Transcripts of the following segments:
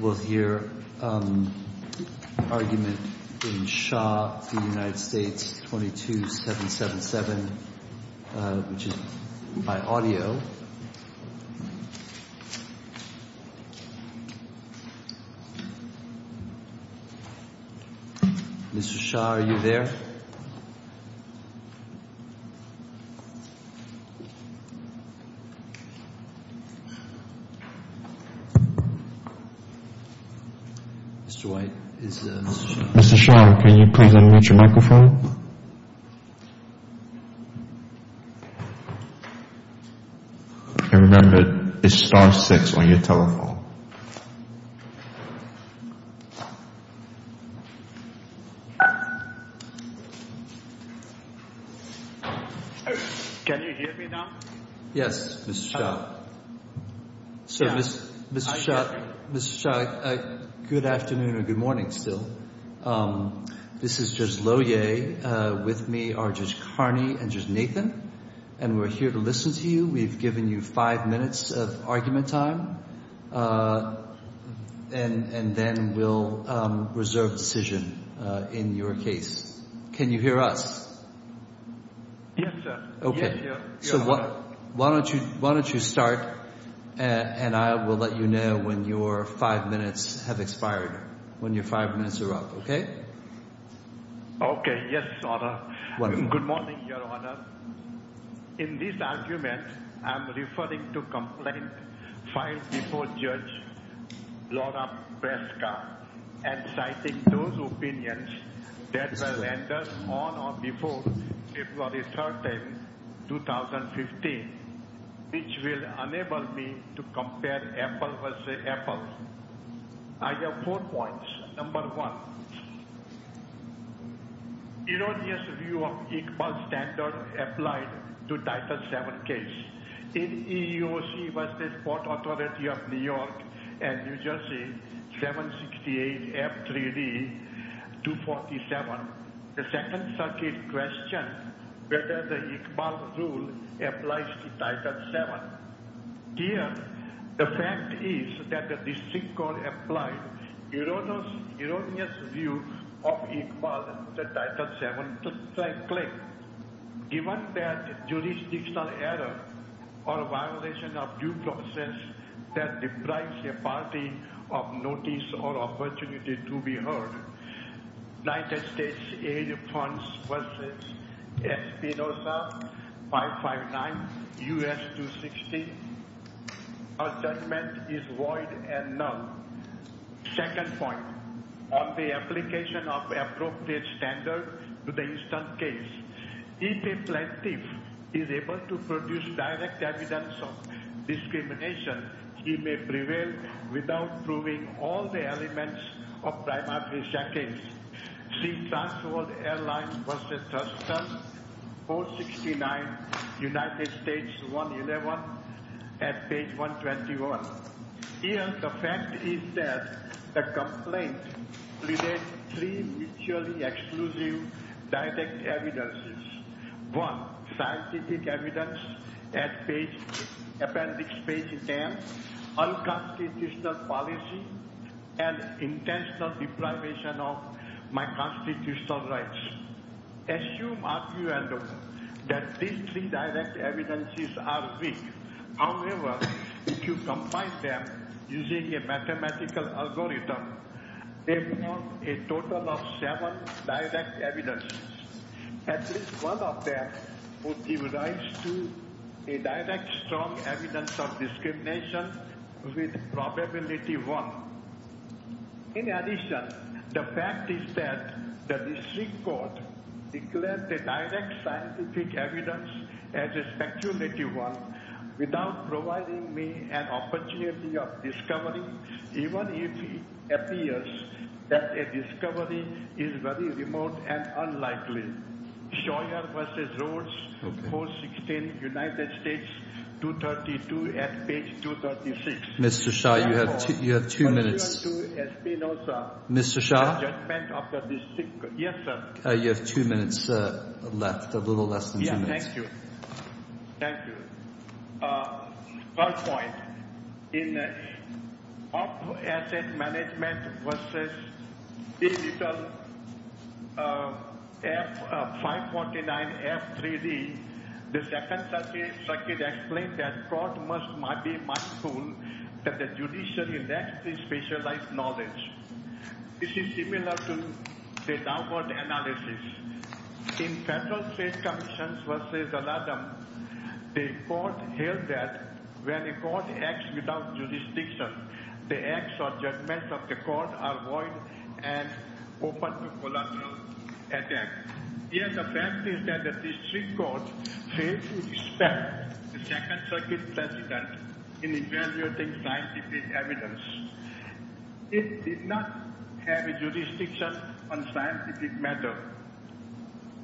with your argument in Shaw v. United States 22777, which is by audio. Mr. Shaw, are you there? Mr. White, is Mr. Shaw. Mr. Shaw, can you please unmute your microphone? And remember, it's star six on your telephone. Can you hear me now? Yes, Mr. Shaw. Mr. Shaw, good afternoon or good morning still. This is Judge Lohier. With me are Judge Carney and Judge Nathan. And we're here to listen to you. We've given you five minutes of argument time and then we'll reserve decision in your case. Can you hear us? Yes, sir. Okay. So why don't you start and I will let you know when your five minutes have expired, when your five minutes are up. Okay. Okay. Yes, sir. Good morning, Your Honor. In this argument, I'm referring to complaint filed before Judge Lora Breska and citing those opinions that were rendered on or before April 13, 2015, which will enable me to compare Apple v. Apple. I have four points. Number one, erroneous view of whether the Iqbal rule applies to Title VII. Here, the fact is that the district court applied erroneous view of Iqbal, the Title VII claim. Given that jurisdictional error or violation of due process that deprives a party of notice or opportunity to be heard, United States Aid Funds v. Espinoza, 559 U.S. 260, our judgment is void and null. Second point, on the application of appropriate standard to the instant case, if a plaintiff is able to produce direct evidence of discrimination, he may prevail without proving all the elements of primary sentence. See Transworld Airlines v. Thurston, 469 United States 111 at page 121. Here, the fact is that the complaint relates three mutually exclusive direct evidences. One, scientific evidence at appendix page 10, unconstitutional policy, and intentional deprivation of my constitutional rights. Assume argument that these three direct evidences are weak. However, if you combine them using a mathematical algorithm, they form a total of seven direct evidences. At least one of them would give rise to a direct strong evidence of discrimination with probability 1. In addition, the fact is that the district court declared the direct scientific evidence as a speculative one without providing me an opportunity of discovery, even if it appears that a discovery is very remote and unlikely. Scheuer v. Rhodes, 416 United States 232 at page 236. Mr. Scheuer, you have two minutes. Mr. Scheuer, you have two minutes left, a little less than two minutes. Thank you. Thank you. Third point, in asset management v. 549F3D, the Second Circuit explained that court must be mindful that the judiciary lacks specialized knowledge. This is similar to the downward analysis. In federal state commissions v. Al-Adham, the court held that when a court acts without jurisdiction, the acts or judgments of the court are void and open to collateral attack. Here, the fact is that the district court failed to respect the Second Circuit President in evaluating scientific evidence. It did not have a jurisdiction on scientific matter.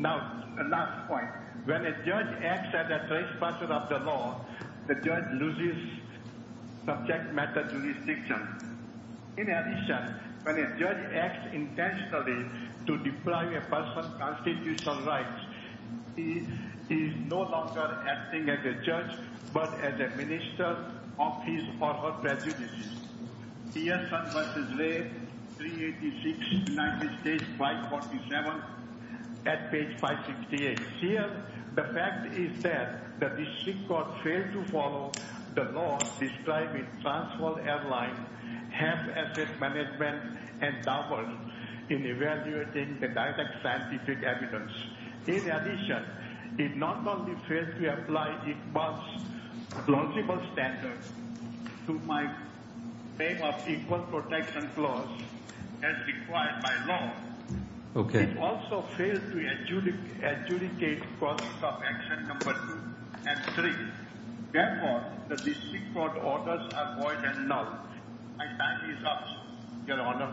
Last point, when a judge acts as a trespasser of the law, the judge loses subject matter jurisdiction. In addition, when a judge acts intentionally to deprive a person's constitutional rights, he is no longer acting as a judge but as a minister of his or her prejudices. Here, Sun v. Ray, 386 United States 547 at page 568. Here, the fact is that the district court failed to follow the law describing Transvaal Airlines' half-asset management endowments in evaluating the direct scientific evidence. In addition, it not only failed to apply Iqbal's lawsible standards to my claim of equal protection clause as required by law, it also failed to adjudicate process of action No. 2 and 3. Therefore, the district court orders are void and null. My time is up, Your Honor.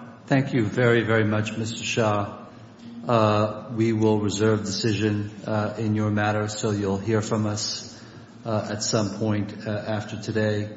in your matter, so you'll hear from us at some point after today.